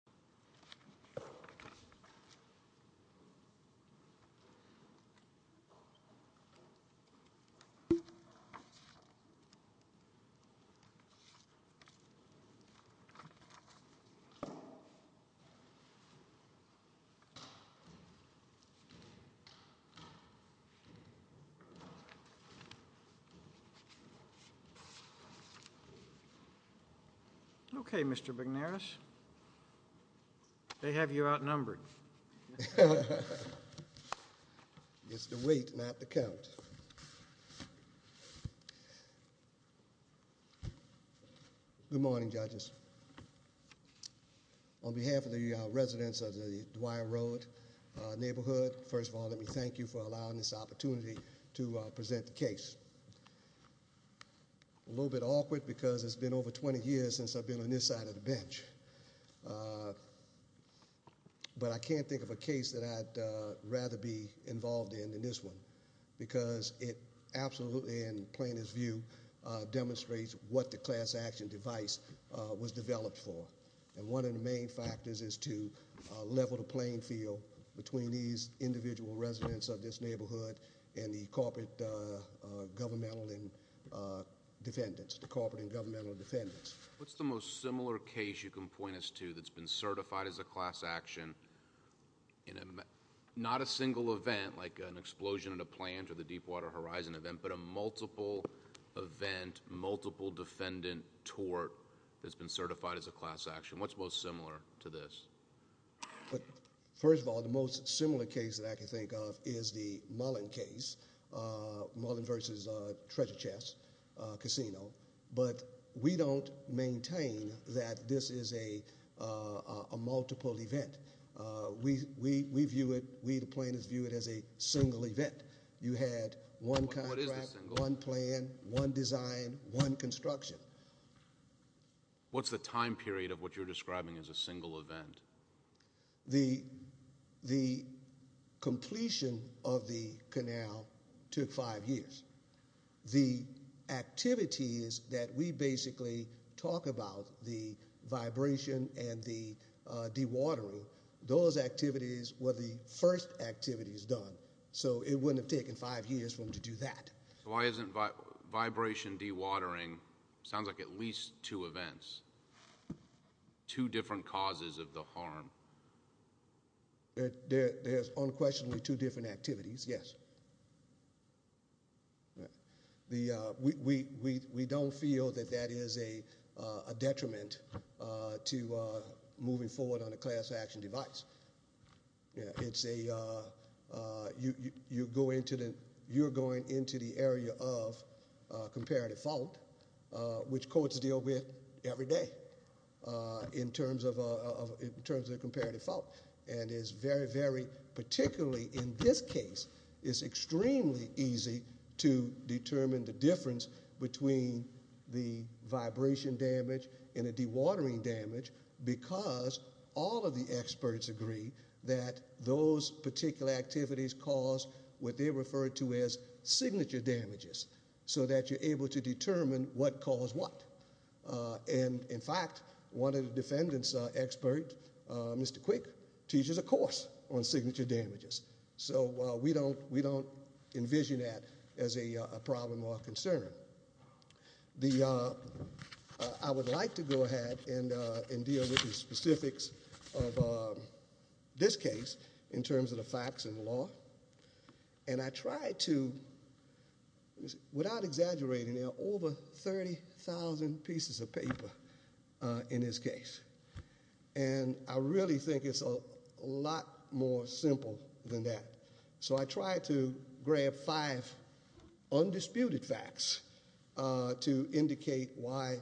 Ronda Crutchfield v. Sewerage & Water Board They have you outnumbered. It's the weight, not the count. Good morning, judges. On behalf of the residents of the Dwyer Road neighborhood, first of all let me thank you for allowing this opportunity to present the case. A little bit awkward because it's been over 20 years since I've been on this side of the bench. But I can't think of a case that I'd rather be involved in than this one. Because it absolutely, in plaintiff's view, demonstrates what the class action device was developed for. And one of the main factors is to level the playing field between these individual residents of this neighborhood and the corporate and governmental defendants. What's the most similar case you can point us to that's been certified as a class action? Not a single event, like an explosion at a plant or the Deepwater Horizon event, but a multiple event, multiple defendant tort that's been certified as a class action. What's most similar to this? First of all, the most similar case that I can think of is the Mullen case, Mullen versus Treasure Chest Casino. But we don't maintain that this is a multiple event. We view it, we the plaintiffs view it as a single event. You had one contract, one plan, one design, one construction. What's the time period of what you're describing as a single event? The completion of the canal took five years. The activities that we basically talk about, the vibration and the dewatering, those activities were the first activities done. So it wouldn't have taken five years for them to do that. Why isn't vibration dewatering, sounds like at least two events, two different causes of the harm? There's unquestionably two different activities, yes. We don't feel that that is a detriment to moving forward on a class action device. It's a, you're going into the area of comparative fault, which courts deal with every day in terms of comparative fault. And it's very, very, particularly in this case, it's extremely easy to determine the difference between the vibration damage and the dewatering damage because all of the experts agree that those particular activities cause what they refer to as signature damages. So that you're able to determine what caused what. And in fact, one of the defendants expert, Mr. Quick, teaches a course on signature damages. So we don't envision that as a problem or a concern. I would like to go ahead and deal with the specifics of this case in terms of the facts and law. And I tried to, without exaggerating, there are over 30,000 pieces of paper in this case. And I really think it's a lot more simple than that. So I tried to grab five undisputed facts to indicate why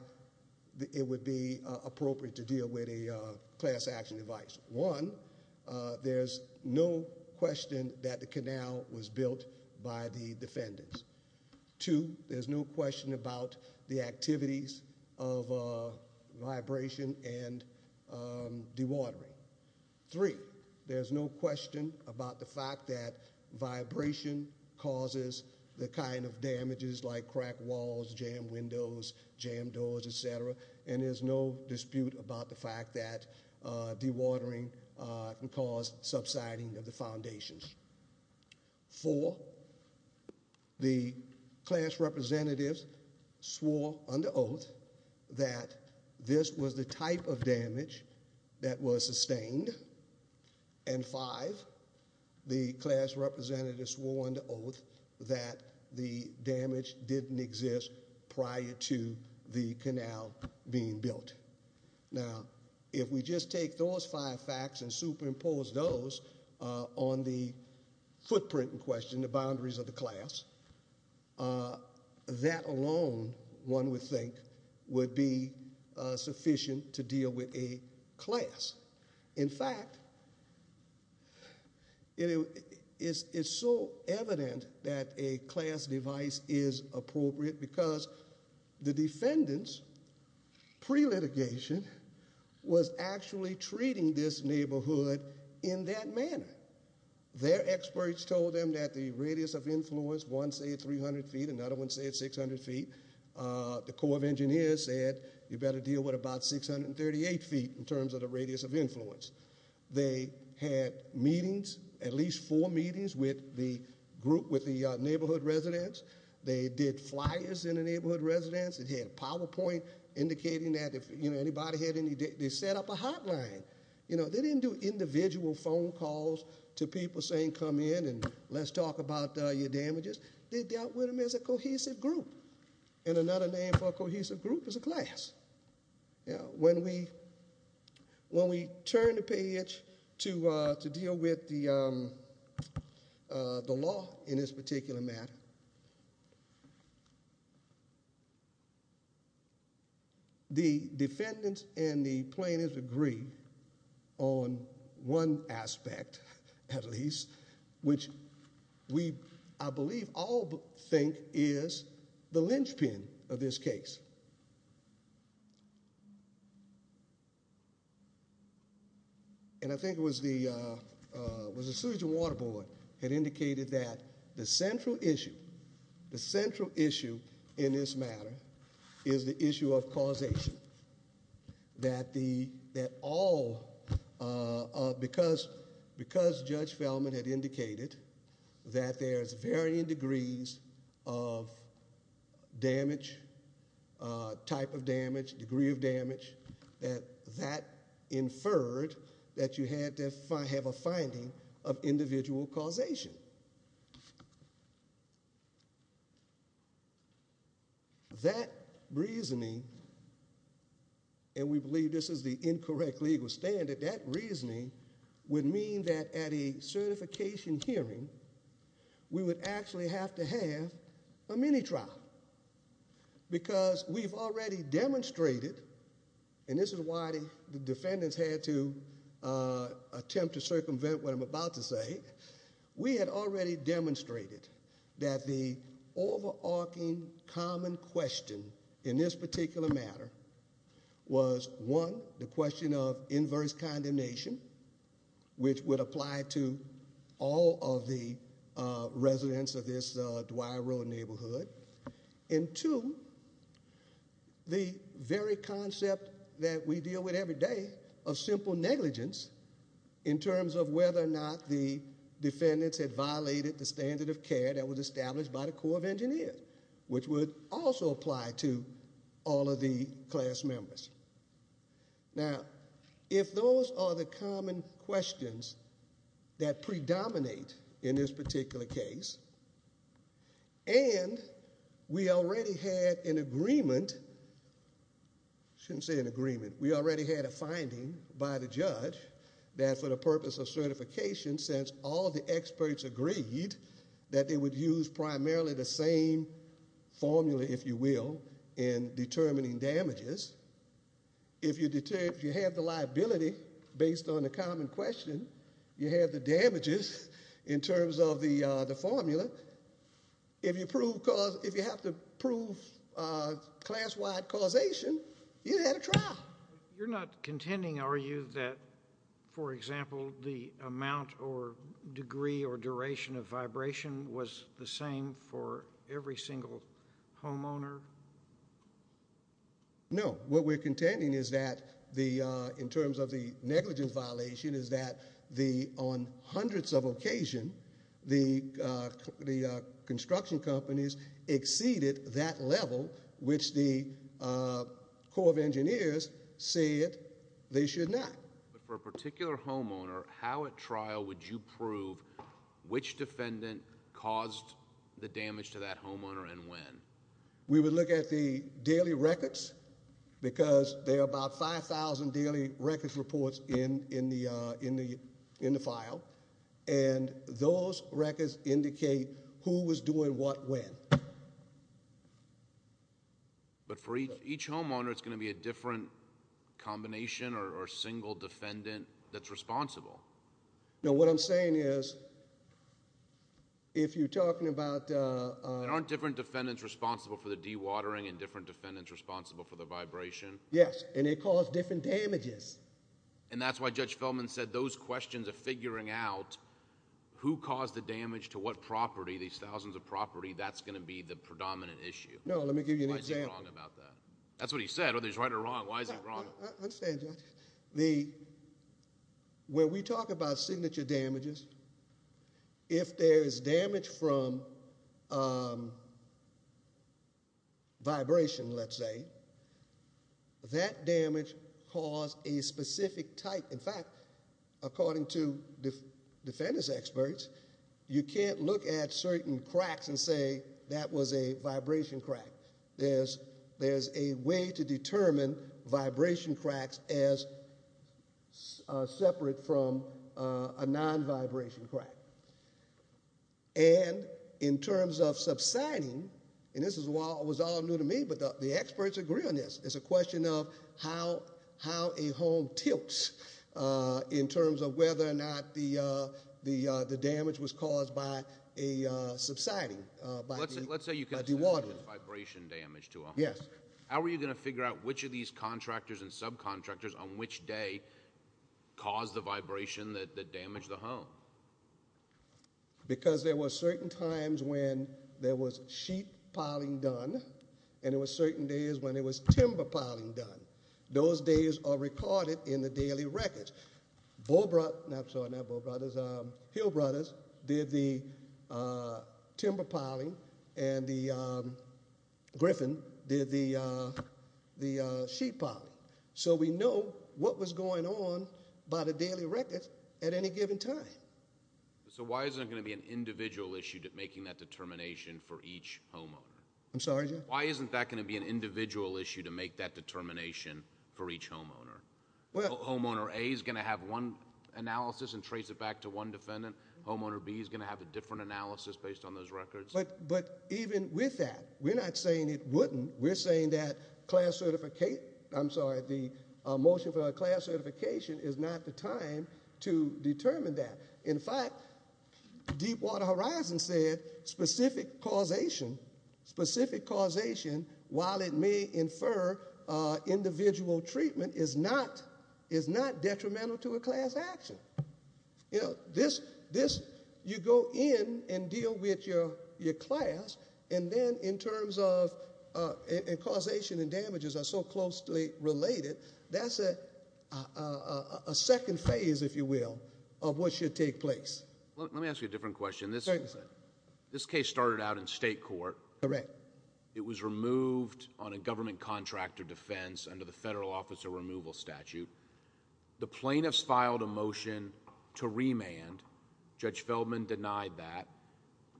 it would be appropriate to deal with a class action device. One, there's no question that the canal was built by the defendants. Two, there's no question about the activities of vibration and dewatering. Three, there's no question about the fact that vibration causes the kind of damages like cracked walls, jammed windows, jammed doors, etc. And there's no dispute about the fact that dewatering can cause subsiding of the foundations. Four, the class representatives swore under oath that this was the type of damage that was sustained. And five, the class representatives swore under oath that the damage didn't exist prior to the canal being built. Now, if we just take those five facts and superimpose those on the footprint in question, the boundaries of the class, that alone, one would think, would be sufficient to deal with a class. In fact, it's so evident that a class device is appropriate because the defendants, pre-litigation, was actually treating this neighborhood in that manner. Their experts told them that the radius of influence, one said 300 feet, another one said 600 feet. The Corps of Engineers said you better deal with about 638 feet in terms of the radius of influence. They had meetings, at least four meetings, with the group, with the neighborhood residents. They did flyers in the neighborhood residents. It had a PowerPoint indicating that if anybody had any, they set up a hotline. They didn't do individual phone calls to people saying come in and let's talk about your damages. They dealt with them as a cohesive group. And another name for a cohesive group is a class. When we turn the page to deal with the law in this particular matter, the defendants and the plaintiffs agree on one aspect, at least, which we, I believe, all think is the linchpin of this case. And I think it was the Surgeon Water Board that indicated that the central issue, the central issue in this matter is the issue of causation. That all, because Judge Feldman had indicated that there's varying degrees of damage, type of damage, degree of damage, that that inferred that you had to have a finding of individual causation. That reasoning, and we believe this is the incorrect legal standard, that reasoning would mean that at a certification hearing, we would actually have to have a mini-trial. Because we've already demonstrated, and this is why the defendants had to attempt to circumvent what I'm about to say, we had already demonstrated that the overarching common question in this particular matter was, one, the question of inverse condemnation, which would apply to all of the residents of this Dwyer Road neighborhood, and two, the very concept that we deal with every day of simple negligence in terms of whether or not the defendants had violated the standard of care that was established by the Corps of Engineers, which would also apply to all of the class members. Now, if those are the common questions that predominate in this particular case, and we already had an agreement, shouldn't say an agreement, we already had a finding by the judge that for the purpose of certification, since all of the experts agreed that they would use primarily the same formula, if you will, in determining damages, if you have the liability based on the common question, you have the damages in terms of the formula, if you have to prove class-wide causation, you had to try. You're not contending, are you, that, for example, the amount or degree or duration of vibration was the same for every single homeowner? No. What we're contending is that in terms of the negligence violation is that on hundreds of occasions, the construction companies exceeded that level which the Corps of Engineers said they should not. But for a particular homeowner, how at trial would you prove which defendant caused the damage to that homeowner and when? We would look at the daily records because there are about 5,000 daily records reports in the file, and those records indicate who was doing what when. But for each homeowner, it's going to be a different combination or single defendant that's responsible. No, what I'm saying is if you're talking about... There aren't different defendants responsible for the dewatering and different defendants responsible for the vibration? Yes, and they cause different damages. And that's why Judge Feldman said those questions of figuring out who caused the damage to what property, these thousands of property, that's going to be the predominant issue. No, let me give you an example. Why is he wrong about that? That's what he said. Whether he's right or wrong, why is he wrong? I understand, Judge. When we talk about signature damages, if there is damage from vibration, let's say, that damage caused a specific type. In fact, according to defendant's experts, you can't look at certain cracks and say that was a vibration crack. There's a way to determine vibration cracks as separate from a non-vibration crack. And in terms of subsiding, and this was all new to me, but the experts agree on this. It's a question of how a home tilts in terms of whether or not the damage was caused by a subsiding, by dewatering. Let's say you consider vibration damage to a home. Yes. How are you going to figure out which of these contractors and subcontractors on which day caused the vibration that damaged the home? Because there were certain times when there was sheet piling done, and there were certain days when there was timber piling done. Those days are recorded in the daily records. Hill Brothers did the timber piling, and Griffin did the sheet piling. So we know what was going on by the daily records at any given time. So why isn't it going to be an individual issue making that determination for each homeowner? I'm sorry, Judge? Why isn't that going to be an individual issue to make that determination for each homeowner? Homeowner A is going to have one analysis and trace it back to one defendant. Homeowner B is going to have a different analysis based on those records. But even with that, we're not saying it wouldn't. We're saying that the motion for a class certification is not the time to determine that. In fact, Deepwater Horizon said specific causation, while it may infer individual treatment, is not detrimental to a class action. You go in and deal with your class, and then in terms of causation and damages are so closely related, that's a second phase, if you will, of what should take place. Let me ask you a different question. This case started out in state court. Correct. It was removed on a government contract of defense under the federal officer removal statute. The plaintiffs filed a motion to remand. Judge Feldman denied that.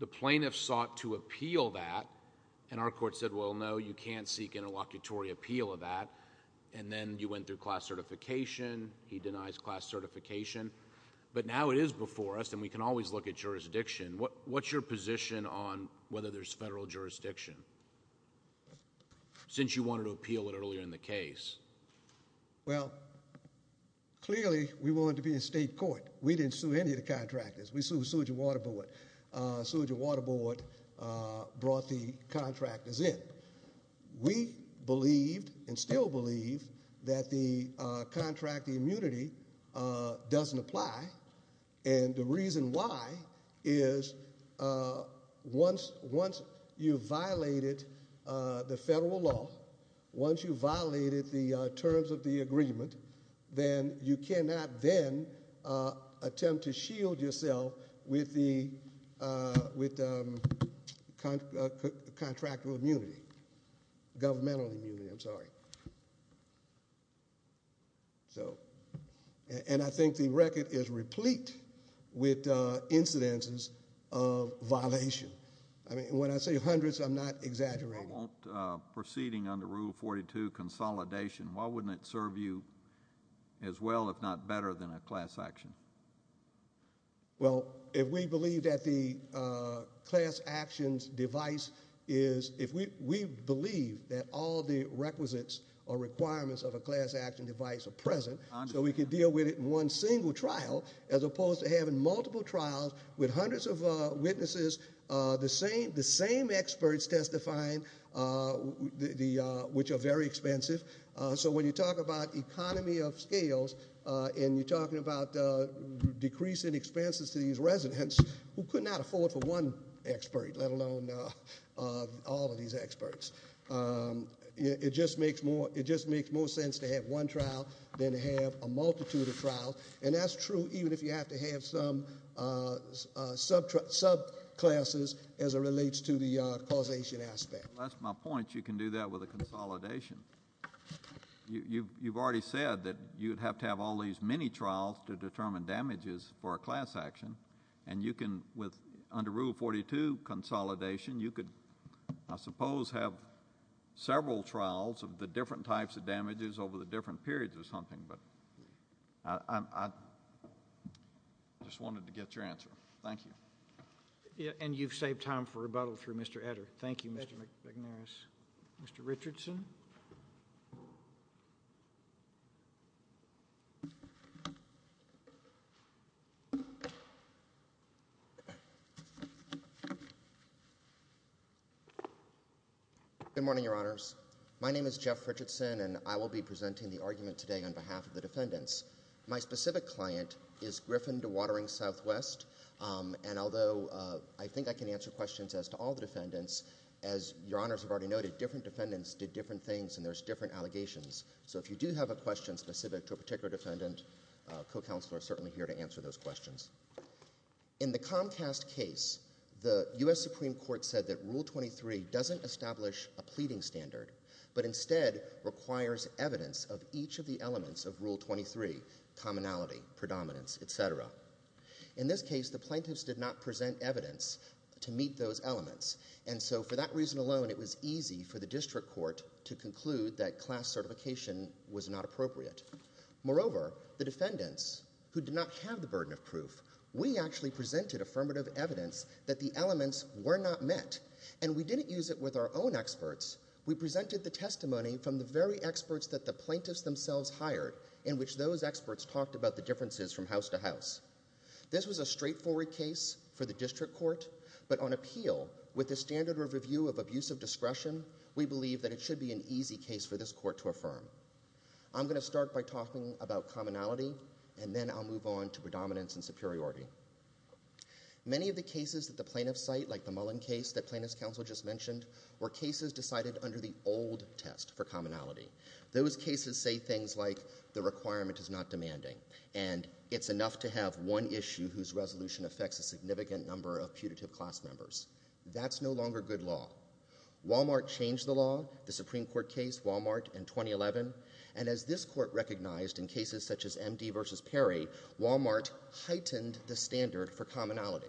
The plaintiffs sought to appeal that, and our court said, well, no, you can't seek interlocutory appeal of that. And then you went through class certification. He denies class certification. But now it is before us, and we can always look at jurisdiction. What's your position on whether there's federal jurisdiction, since you wanted to appeal it earlier in the case? Well, clearly we wanted to be in state court. We didn't sue any of the contractors. We sued Sewage and Water Board. Sewage and Water Board brought the contractors in. We believed and still believe that the contract immunity doesn't apply, and the reason why is once you violated the federal law, once you violated the terms of the agreement, then you cannot then attempt to shield yourself with contractual immunity, governmental immunity, I'm sorry. And I think the record is replete with incidences of violation. When I say hundreds, I'm not exaggerating. If you weren't proceeding under Rule 42, consolidation, why wouldn't it serve you as well, if not better, than a class action? Well, if we believe that the class actions device is, if we believe that all the requisites or requirements of a class action device are present, so we can deal with it in one single trial, as opposed to having multiple trials with hundreds of witnesses, the same experts testifying, which are very expensive. So when you talk about economy of scales, and you're talking about decreasing expenses to these residents, who could not afford for one expert, let alone all of these experts? It just makes more sense to have one trial than to have a multitude of trials. And that's true even if you have to have some subclasses as it relates to the causation aspect. Well, that's my point. You can do that with a consolidation. You've already said that you'd have to have all these mini-trials to determine damages for a class action, and you can, under Rule 42, consolidation, you could, I suppose, have several trials of the different types of damages over the different periods of something. But I just wanted to get your answer. Thank you. And you've saved time for rebuttal through Mr. Etter. Thank you, Mr. McNairis. Mr. Richardson. Good morning, Your Honors. My name is Jeff Richardson, and I will be presenting the argument today on behalf of the defendants. My specific client is Griffin Dewatering Southwest, and although I think I can answer questions as to all the defendants, as Your Honors have already noted, different defendants did different things and there's different allegations. So if you do have a question specific to a particular defendant, a co-counselor is certainly here to answer those questions. In the Comcast case, the U.S. Supreme Court said that Rule 23 doesn't establish a pleading standard, but instead requires evidence of each of the elements of Rule 23, commonality, predominance, et cetera. In this case, the plaintiffs did not present evidence to meet those elements, and so for that reason alone, it was easy for the district court to conclude that class certification was not appropriate. Moreover, the defendants, who did not have the burden of proof, we actually presented affirmative evidence that the elements were not met, and we didn't use it with our own experts. We presented the testimony from the very experts that the plaintiffs themselves hired in which those experts talked about the differences from house to house. This was a straightforward case for the district court, but on appeal, with the standard review of abusive discretion, we believe that it should be an easy case for this court to affirm. I'm going to start by talking about commonality, and then I'll move on to predominance and superiority. Many of the cases that the plaintiffs cite, like the Mullen case that plaintiffs' counsel just mentioned, were cases decided under the old test for commonality. Those cases say things like, the requirement is not demanding, and it's enough to have one issue whose resolution affects a significant number of putative class members. That's no longer good law. Walmart changed the law, the Supreme Court case, Walmart, in 2011, and as this court recognized in cases such as MD versus Perry, Walmart heightened the standard for commonality.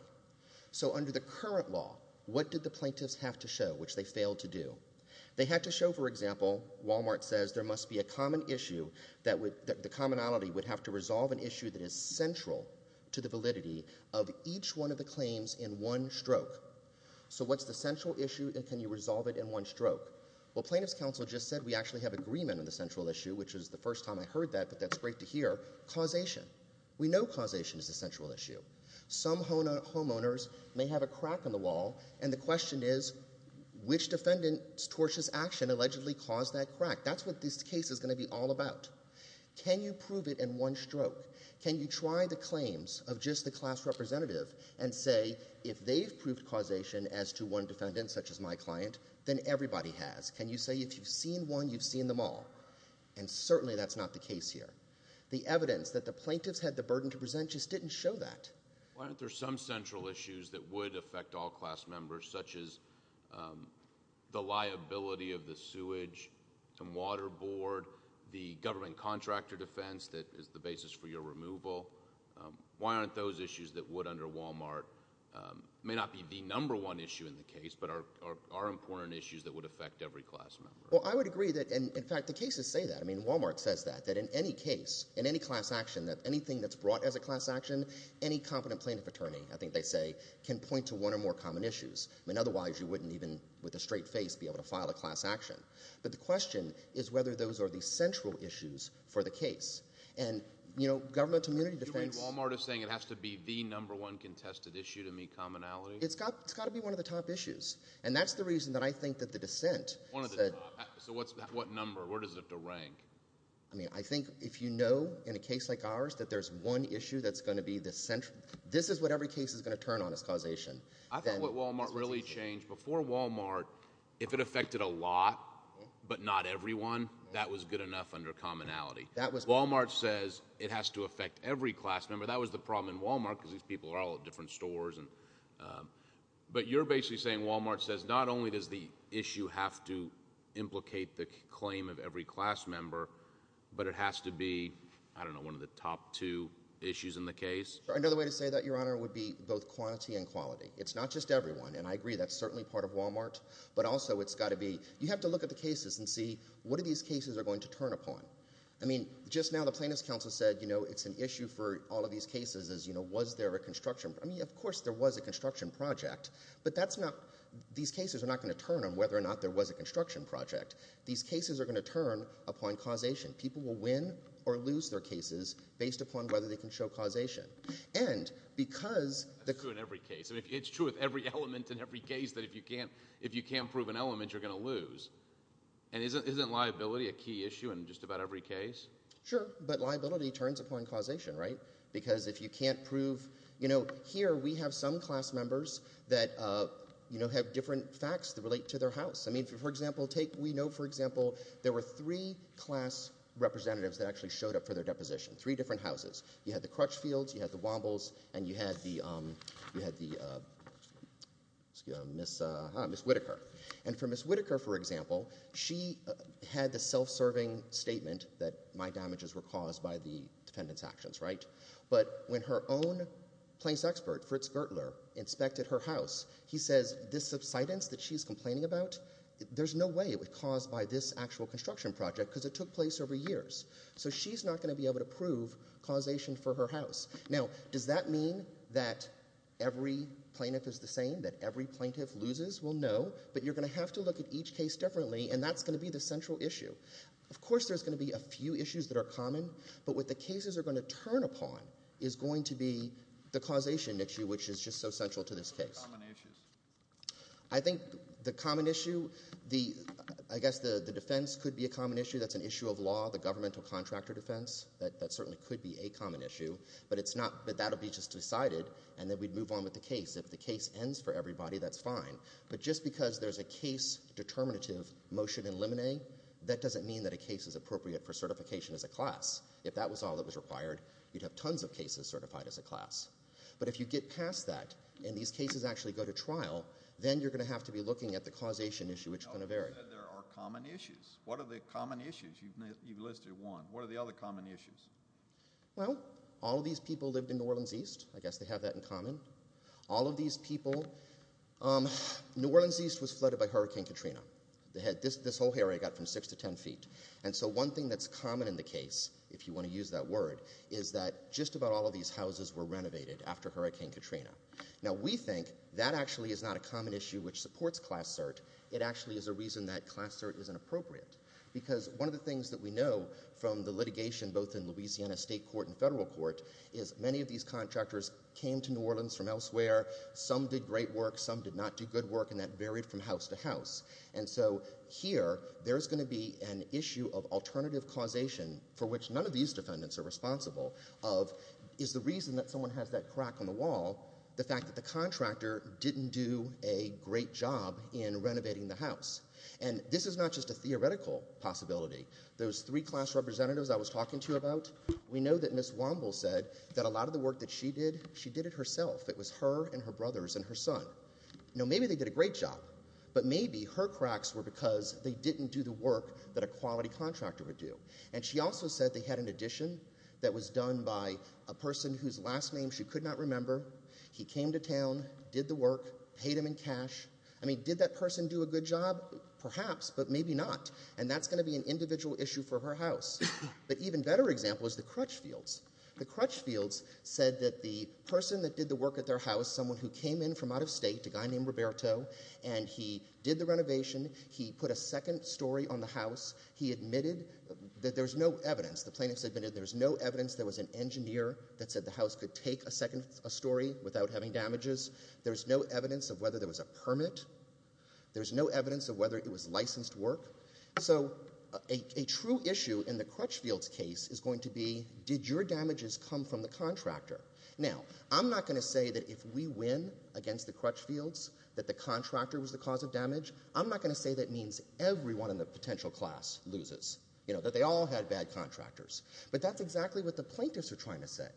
So under the current law, what did the plaintiffs have to show, which they failed to do? They had to show, for example, Walmart says there must be a common issue that the commonality would have to resolve an issue that is central to the validity of each one of the claims in one stroke. So what's the central issue, and can you resolve it in one stroke? Well, plaintiffs' counsel just said we actually have agreement on the central issue, which was the first time I heard that, but that's great to hear, causation. We know causation is a central issue. Some homeowners may have a crack in the wall, and the question is, which defendant's tortious action allegedly caused that crack? That's what this case is going to be all about. Can you prove it in one stroke? Can you try the claims of just the class representative and say, if they've proved causation as to one defendant, such as my client, then everybody has? Can you say if you've seen one, you've seen them all? And certainly that's not the case here. The evidence that the plaintiffs had the burden to present just didn't show that. Why aren't there some central issues that would affect all class members, such as the liability of the sewage and water board, the government contractor defense that is the basis for your removal? Why aren't those issues that would under Walmart, may not be the number one issue in the case, but are important issues that would affect every class member? Well, I would agree that, in fact, the cases say that. I mean, Walmart says that, that in any case, in any class action, that anything that's brought as a class action, any competent plaintiff attorney, I think they say, can point to one or more common issues. I mean, otherwise you wouldn't even, with a straight face, be able to file a class action. But the question is whether those are the central issues for the case. And, you know, government immunity defense – You mean Walmart is saying it has to be the number one contested issue to meet commonality? It's got to be one of the top issues. And that's the reason that I think that the dissent – One of the top. So what number? Where does it have to rank? I mean, I think if you know, in a case like ours, that there's one issue that's going to be the central – This is what every case is going to turn on as causation. I think what Walmart really changed, before Walmart, if it affected a lot, but not everyone, that was good enough under commonality. Walmart says it has to affect every class member. That was the problem in Walmart, because these people are all at different stores. But you're basically saying Walmart says not only does the issue have to implicate the claim of every class member, but it has to be, I don't know, one of the top two issues in the case? Another way to say that, Your Honor, would be both quantity and quality. It's not just everyone. And I agree, that's certainly part of Walmart. But also, it's got to be – You have to look at the cases and see what are these cases are going to turn upon. I mean, just now the plaintiff's counsel said, you know, it's an issue for all of these cases is, you know, was there a construction – I mean, of course there was a construction project. But that's not – these cases are not going to turn on whether or not there was a construction project. These cases are going to turn upon causation. People will win or lose their cases based upon whether they can show causation. And because – That's true in every case. I mean, it's true with every element in every case that if you can't prove an element, you're going to lose. And isn't liability a key issue in just about every case? Sure, but liability turns upon causation, right? Because if you can't prove – You know, here we have some class members that, you know, have different facts that relate to their house. I mean, for example, take – we know, for example, there were three class representatives that actually showed up for their deposition, three different houses. You had the Crutchfields. You had the Wombles. And you had the – you had the – excuse me – Ms. Whitaker. And for Ms. Whitaker, for example, she had the self-serving statement that my damages were caused by the defendant's actions, right? But when her own place expert, Fritz Gertler, inspected her house, he says this subsidence that she's complaining about, there's no way it was caused by this actual construction project because it took place over years. So she's not going to be able to prove causation for her house. Now, does that mean that every plaintiff is the same, that every plaintiff loses? Well, no. But you're going to have to look at each case differently, and that's going to be the central issue. Of course there's going to be a few issues that are common, but what the cases are going to turn upon is going to be the causation issue, which is just so central to this case. What are the common issues? I think the common issue – I guess the defense could be a common issue. That's an issue of law, the governmental contractor defense. That certainly could be a common issue, but that will be just decided, and then we'd move on with the case. If the case ends for everybody, that's fine. But just because there's a case-determinative motion in limine, that doesn't mean that a case is appropriate for certification as a class. If that was all that was required, you'd have tons of cases certified as a class. But if you get past that and these cases actually go to trial, then you're going to have to be looking at the causation issue, which is going to vary. You said there are common issues. What are the common issues? You've listed one. What are the other common issues? Well, all of these people lived in New Orleans East. I guess they have that in common. All of these people – New Orleans East was flooded by Hurricane Katrina. This whole area got from 6 to 10 feet. And so one thing that's common in the case, if you want to use that word, is that just about all of these houses were renovated after Hurricane Katrina. Now, we think that actually is not a common issue which supports class cert. It actually is a reason that class cert isn't appropriate because one of the things that we know from the litigation both in Louisiana state court and federal court is many of these contractors came to New Orleans from elsewhere. Some did great work. Some did not do good work, and that varied from house to house. And so here there's going to be an issue of alternative causation for which none of these defendants are responsible of is the reason that someone has that crack on the wall the fact that the contractor didn't do a great job in renovating the house. And this is not just a theoretical possibility. Those three class representatives I was talking to you about, we know that Ms. Wamble said that a lot of the work that she did, she did it herself. It was her and her brothers and her son. Now, maybe they did a great job, but maybe her cracks were because they didn't do the work that a quality contractor would do. And she also said they had an addition that was done by a person whose last name she could not remember. He came to town, did the work, paid him in cash. I mean, did that person do a good job? Perhaps, but maybe not. And that's going to be an individual issue for her house. But even better example is the Crutchfields. The Crutchfields said that the person that did the work at their house, someone who came in from out of state, a guy named Roberto, and he did the renovation. He put a second story on the house. He admitted that there's no evidence. The plaintiffs admitted there's no evidence there was an engineer that said the house could take a second story without having damages. There's no evidence of whether there was a permit. There's no evidence of whether it was licensed work. So a true issue in the Crutchfields case is going to be did your damages come from the contractor? Now, I'm not going to say that if we win against the Crutchfields that the contractor was the cause of damage. I'm not going to say that means everyone in the potential class loses, that they all had bad contractors. But that's exactly what the plaintiffs are trying to say.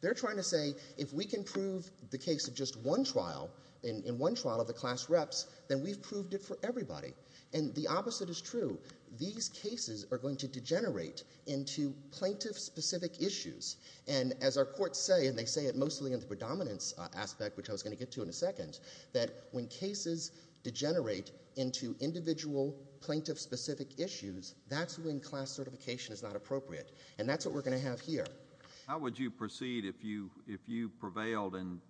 They're trying to say if we can prove the case of just one trial, in one trial of the class reps, then we've proved it for everybody. And the opposite is true. These cases are going to degenerate into plaintiff-specific issues. And as our courts say, and they say it mostly in the predominance aspect, which I was going to get to in a second, that when cases degenerate into individual plaintiff-specific issues, that's when class certification is not appropriate. And that's what we're going to have here. How would you proceed if you prevailed and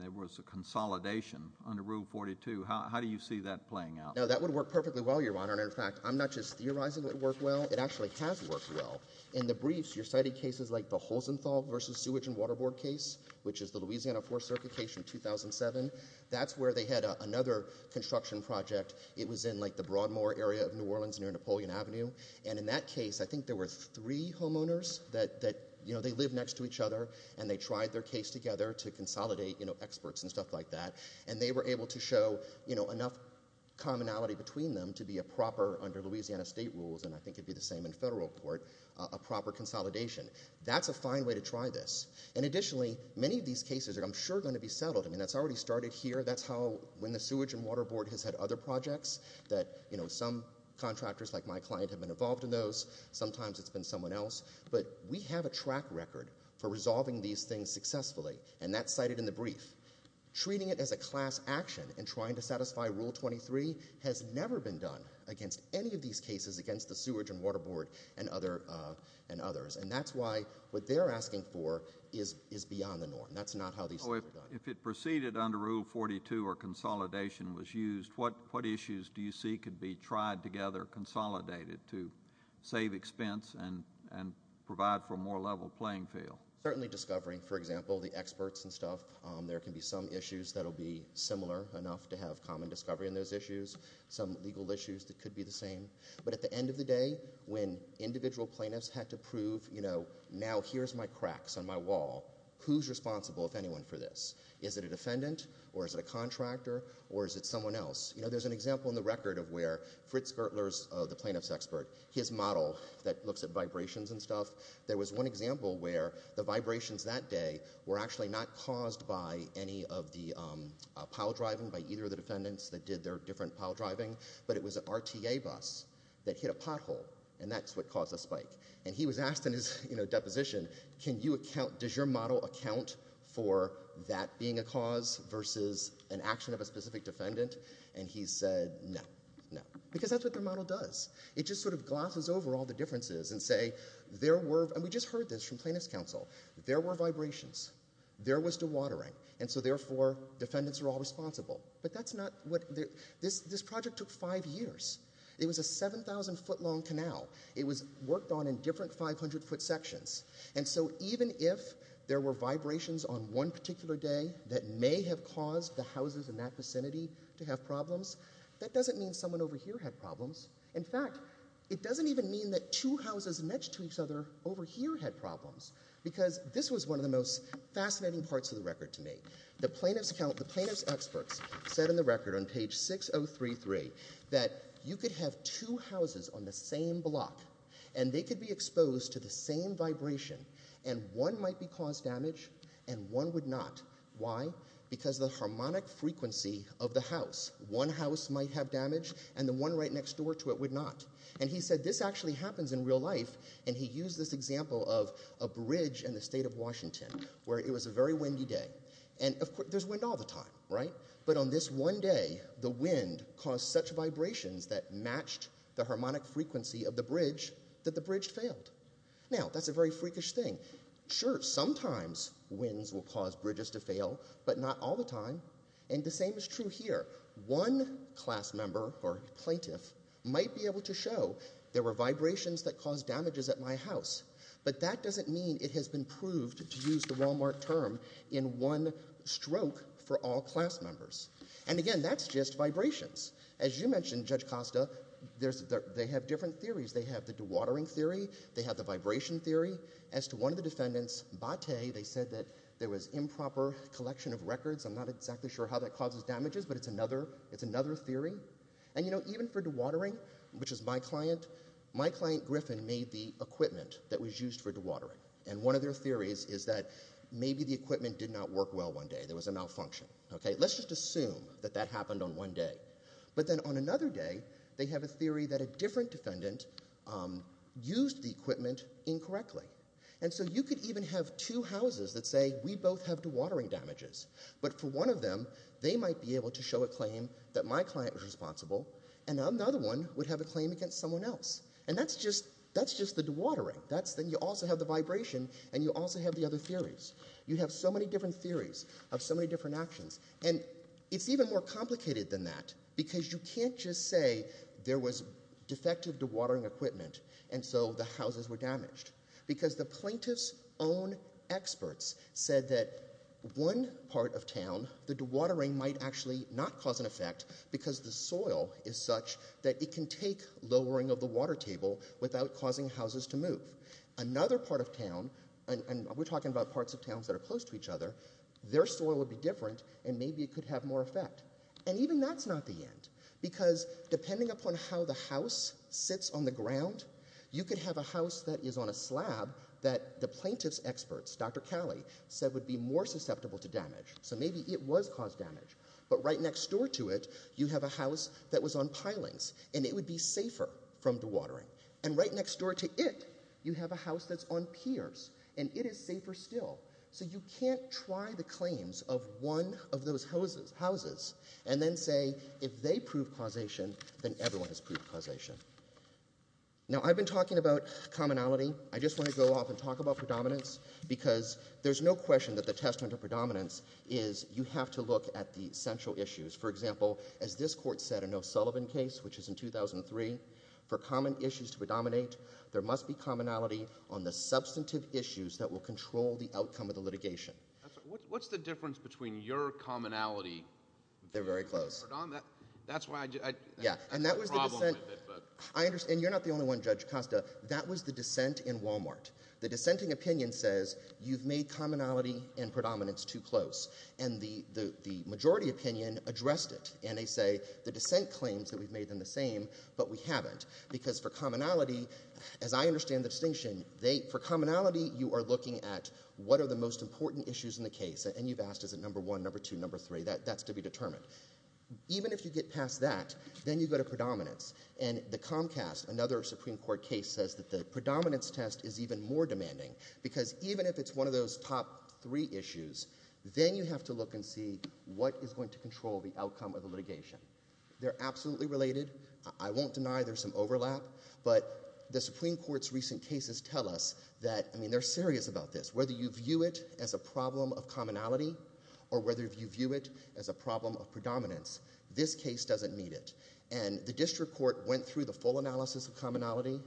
there was a consolidation under Rule 42? How do you see that playing out? Now, that would work perfectly well, Your Honor. And, in fact, I'm not just theorizing it worked well. It actually has worked well. In the briefs, you're citing cases like the Holzenthal v. Sewage and Water Board case, which is the Louisiana Fourth Circuit case from 2007. That's where they had another construction project. It was in, like, the Broadmoor area of New Orleans near Napoleon Avenue. And in that case, I think there were three homeowners that, you know, they live next to each other, and they tried their case together to consolidate, you know, experts and stuff like that. And they were able to show, you know, enough commonality between them to be a proper, under Louisiana state rules, and I think it would be the same in federal court, a proper consolidation. That's a fine way to try this. And, additionally, many of these cases are, I'm sure, going to be settled. I mean, that's already started here. That's how when the Sewage and Water Board has had other projects that, you know, some contractors like my client have been involved in those. Sometimes it's been someone else. But we have a track record for resolving these things successfully, and that's cited in the brief. Treating it as a class action and trying to satisfy Rule 23 has never been done against any of these cases against the Sewage and Water Board and others. And that's why what they're asking for is beyond the norm. That's not how these things are done. If it proceeded under Rule 42 or consolidation was used, what issues do you see could be tried together, consolidated to save expense and provide for a more level playing field? Certainly discovering, for example, the experts and stuff. There can be some issues that will be similar enough to have common discovery in those issues, some legal issues that could be the same. But at the end of the day, when individual plaintiffs had to prove, you know, now here's my cracks on my wall. Who's responsible, if anyone, for this? Is it a defendant or is it a contractor or is it someone else? You know, there's an example in the record of where Fritz Gertler's, the plaintiff's expert, his model that looks at vibrations and stuff, there was one example where the vibrations that day were actually not caused by any of the pile driving by either of the defendants that did their different pile driving, but it was an RTA bus that hit a pothole, and that's what caused the spike. And he was asked in his, you know, deposition, can you account, does your model account for that being a cause versus an action of a specific defendant? And he said, no, no. Because that's what their model does. It just sort of glosses over all the differences and say, there were, and we just heard this from plaintiff's counsel, there were vibrations. There was dewatering. And so therefore, defendants are all responsible. But that's not what, this project took five years. It was a 7,000 foot long canal. It was worked on in different 500 foot sections. And so even if there were vibrations on one particular day that may have caused the houses in that vicinity to have problems, that doesn't mean someone over here had problems. In fact, it doesn't even mean that two houses next to each other over here had problems. Because this was one of the most fascinating parts of the record to me. The plaintiff's account, the plaintiff's experts said in the record on page 6033 that you could have two houses on the same block, and they could be exposed to the same vibration, and one might be caused damage and one would not. Why? Because of the harmonic frequency of the house. One house might have damage, and the one right next door to it would not. And he said this actually happens in real life, and he used this example of a bridge in the state of Washington where it was a very windy day. And, of course, there's wind all the time, right? But on this one day, the wind caused such vibrations that matched the harmonic frequency of the bridge that the bridge failed. Now, that's a very freakish thing. Sure, sometimes winds will cause bridges to fail, but not all the time. And the same is true here. One class member or plaintiff might be able to show there were vibrations that caused damages at my house, but that doesn't mean it has been proved, to use the Walmart term, in one stroke for all class members. And, again, that's just vibrations. As you mentioned, Judge Costa, they have different theories. They have the dewatering theory, they have the vibration theory. As to one of the defendants, Bate, they said that there was improper collection of records. I'm not exactly sure how that causes damages, but it's another theory. And, you know, even for dewatering, which is my client, my client Griffin made the equipment that was used for dewatering. And one of their theories is that maybe the equipment did not work well one day. There was a malfunction. Let's just assume that that happened on one day. But then on another day, they have a theory that a different defendant used the equipment incorrectly. And so you could even have two houses that say, we both have dewatering damages. But for one of them, they might be able to show a claim that my client was responsible, and another one would have a claim against someone else. And that's just the dewatering. Then you also have the vibration, and you also have the other theories. You have so many different theories of so many different actions. And it's even more complicated than that, because you can't just say there was defective dewatering equipment, and so the houses were damaged. Because the plaintiff's own experts said that one part of town, the dewatering might actually not cause an effect, because the soil is such that it can take lowering of the water table without causing houses to move. Another part of town, and we're talking about parts of towns that are close to each other, their soil would be different, and maybe it could have more effect. And even that's not the end, because depending upon how the house sits on the ground, you could have a house that is on a slab that the plaintiff's experts, Dr. Calley, said would be more susceptible to damage. So maybe it was caused damage. But right next door to it, you have a house that was on pilings, and it would be safer from dewatering. And right next door to it, you have a house that's on piers, and it is safer still. So you can't try the claims of one of those houses and then say if they prove causation, then everyone has proved causation. Now, I've been talking about commonality. I just want to go off and talk about predominance, because there's no question that the testament of predominance is you have to look at the central issues. For example, as this court said in O'Sullivan's case, which was in 2003, for common issues to predominate, there must be commonality on the substantive issues that will control the outcome of the litigation. What's the difference between your commonality... They're very close. That's why I... Yeah, and that was the dissent... And you're not the only one, Judge Costa. That was the dissent in Walmart. The dissenting opinion says you've made commonality and predominance too close. And the majority opinion addressed it, and they say the dissent claims that we've made them the same, but we haven't, because for commonality, as I understand the distinction, for commonality, you are looking at what are the most important issues in the case, and you've asked, is it number one, number two, number three? That's to be determined. Even if you get past that, then you go to predominance. And the Comcast, another Supreme Court case, says that the predominance test is even more demanding, because even if it's one of those top three issues, then you have to look and see what is going to control the outcome of the litigation. They're absolutely related. I won't deny there's some overlap, but the Supreme Court's recent cases tell us that... I mean, they're serious about this. Whether you view it as a problem of commonality or whether you view it as a problem of predominance, this case doesn't meet it. And the district court went through the full analysis of commonality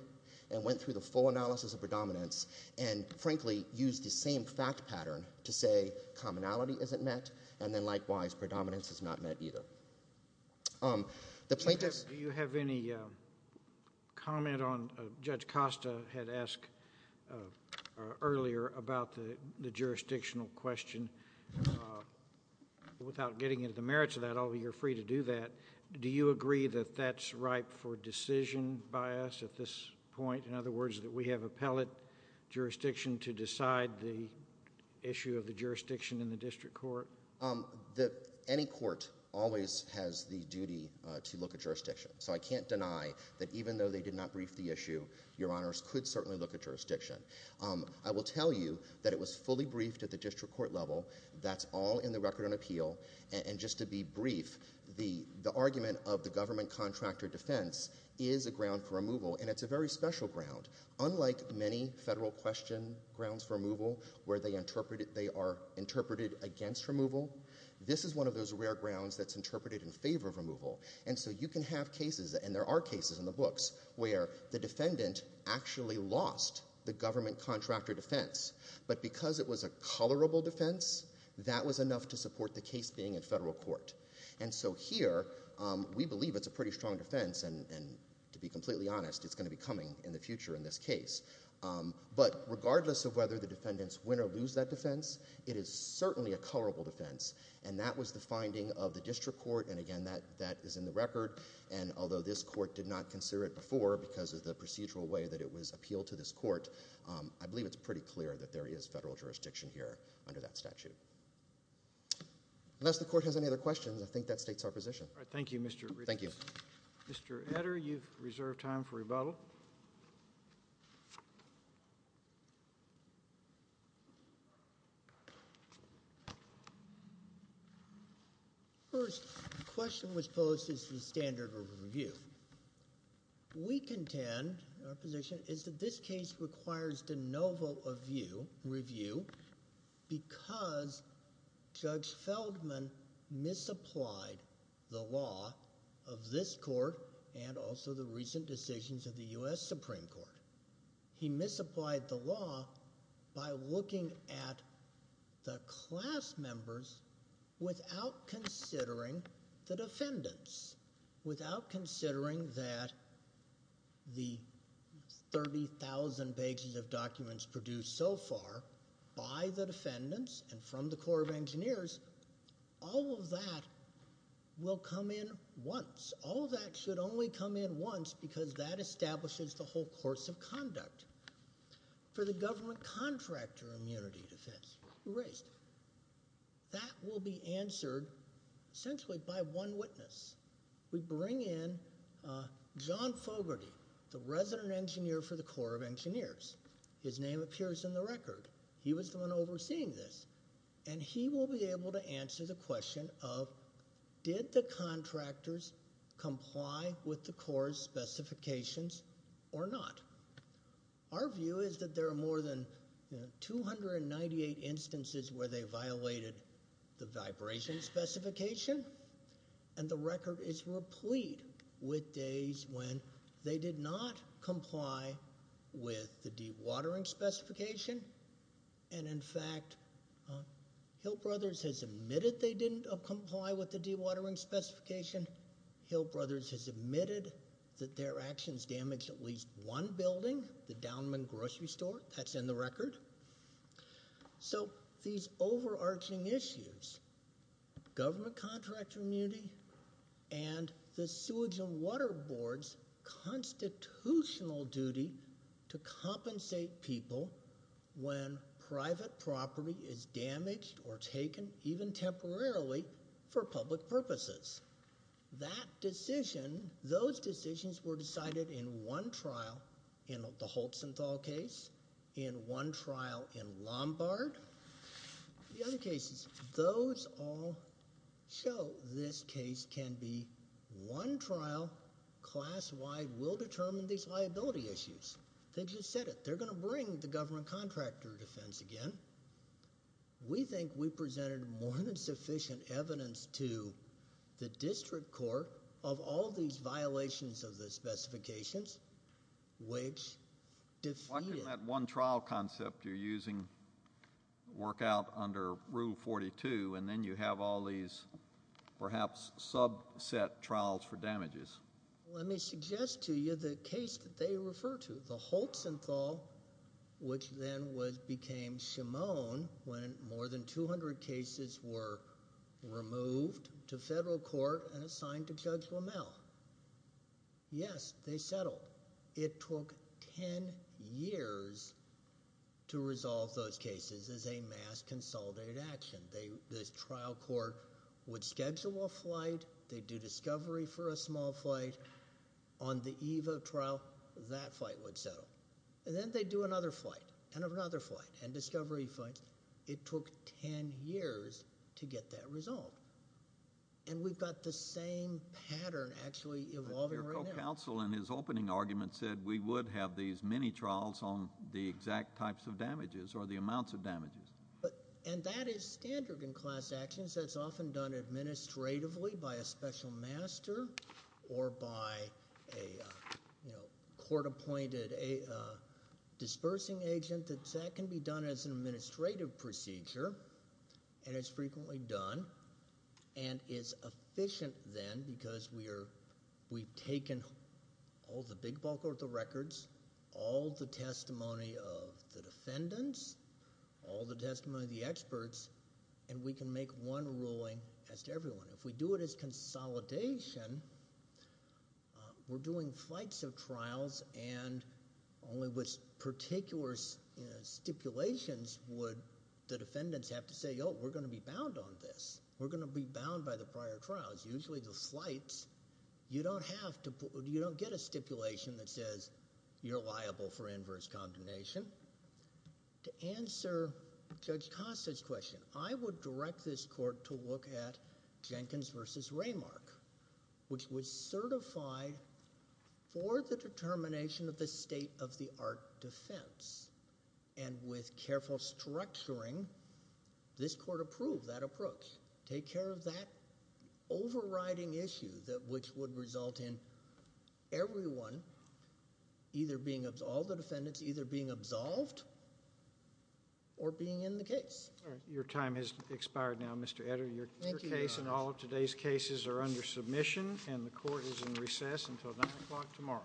and went through the full analysis of predominance and, frankly, used the same fact pattern to say commonality isn't met, and then, likewise, predominance is not met either. The plaintiffs... Do you have any comment on... Judge Costa had asked earlier about the jurisdictional question. Without getting into the merits of that, although you're free to do that, do you agree that that's ripe for decision by us at this point? In other words, that we have appellate jurisdiction to decide the issue of the jurisdiction in the district court? Any court always has the duty to look at jurisdiction, so I can't deny that even though they did not brief the issue, Your Honours could certainly look at jurisdiction. I will tell you that it was fully briefed at the district court level. That's all in the record on appeal. And just to be brief, the argument of the government contractor defense is a ground for removal, and it's a very special ground. Unlike many federal question grounds for removal where they are interpreted against removal, this is one of those rare grounds that's interpreted in favour of removal. And so you can have cases, and there are cases in the books, where the defendant actually lost the government contractor defense, but because it was a colourable defense, that was enough to support the case being in federal court. And so here, we believe it's a pretty strong defense, and to be completely honest, it's going to be coming in the future in this case. But regardless of whether the defendants win or lose that defense, it is certainly a colourable defense, and that was the finding of the district court, and again, that is in the record, and although this court did not consider it before because of the procedural way that it was appealed to this court, I believe it's pretty clear that there is federal jurisdiction here under that statute. Unless the court has any other questions, I think that states our position. Thank you, Mr. Edders. Thank you. Mr. Edders, you've reserved time for rebuttal. First, the question was posed as to the standard of review. We contend, our position, is that this case requires de novo review because Judge Feldman misapplied the law of this court and also the recent decisions of the U.S. Supreme Court. He misapplied the law by looking at the class members without considering the defendants, without considering that the 30,000 pages of documents produced so far by the defendants and from the Corps of Engineers, all of that will come in once. All of that should only come in once because that establishes the whole course of conduct. For the government contractor immunity defense, who raised it? That will be answered essentially by one witness. We bring in John Fogarty, the resident engineer for the Corps of Engineers. His name appears in the record. He was the one overseeing this, and he will be able to answer the question of, did the contractors comply with the Corps' specifications or not? Our view is that there are more than 298 instances where they violated the vibration specification, and the record is replete with days when they did not comply with the dewatering specification. And, in fact, Hill Brothers has admitted they didn't comply with the dewatering specification. Hill Brothers has admitted that their actions damaged at least one building, the Downman Grocery Store. That's in the record. So these overarching issues, government contractor immunity and the Sewage and Water Board's constitutional duty to compensate people when private property is damaged or taken, even temporarily, for public purposes. That decision, those decisions were decided in one trial, in the Holtsenthal case, in one trial in Lombard. The other cases, those all show this case can be one trial, class-wide, will determine these liability issues. They just said it. They're going to bring the government contractor defense again. We think we presented more than sufficient evidence to the district court of all these violations of the specifications. Why couldn't that one trial concept you're using work out under Rule 42, and then you have all these perhaps subset trials for damages? Let me suggest to you the case that they refer to, the Holtsenthal, which then became Shimone, when more than 200 cases were removed to federal court and assigned to Judge Lammel. Yes, they settled. It took 10 years to resolve those cases as a mass consolidated action. The trial court would schedule a flight. They'd do discovery for a small flight. On the eve of trial, that flight would settle. And then they'd do another flight, and another flight, and discovery flight. It took 10 years to get that resolved. And we've got the same pattern actually evolving right now. But your co-counsel in his opening argument said we would have these mini-trials on the exact types of damages or the amounts of damages. And that is standard in class actions. That's often done administratively by a special master or by a court-appointed dispersing agent. That can be done as an administrative procedure, and it's frequently done and is efficient then because we've taken all the big bulk of the records, all the testimony of the defendants, all the testimony of the experts, and we can make one ruling as to everyone. If we do it as consolidation, we're doing flights of trials and only with particular stipulations would the defendants have to say, oh, we're going to be bound on this. We're going to be bound by the prior trials. Usually the flights, you don't get a stipulation that says you're liable for inverse condemnation. To answer Judge Costa's question, I would direct this court to look at Jenkins v. Raymark, which was certified for the determination of the state-of-the-art defense. And with careful structuring, this court approved that approach. Take care of that overriding issue which would result in everyone either being absolved, the defendants either being absolved, or being in the case. Your time has expired now, Mr. Edder. Your case and all of today's cases are under submission, and the court is in recess until 9 o'clock tomorrow.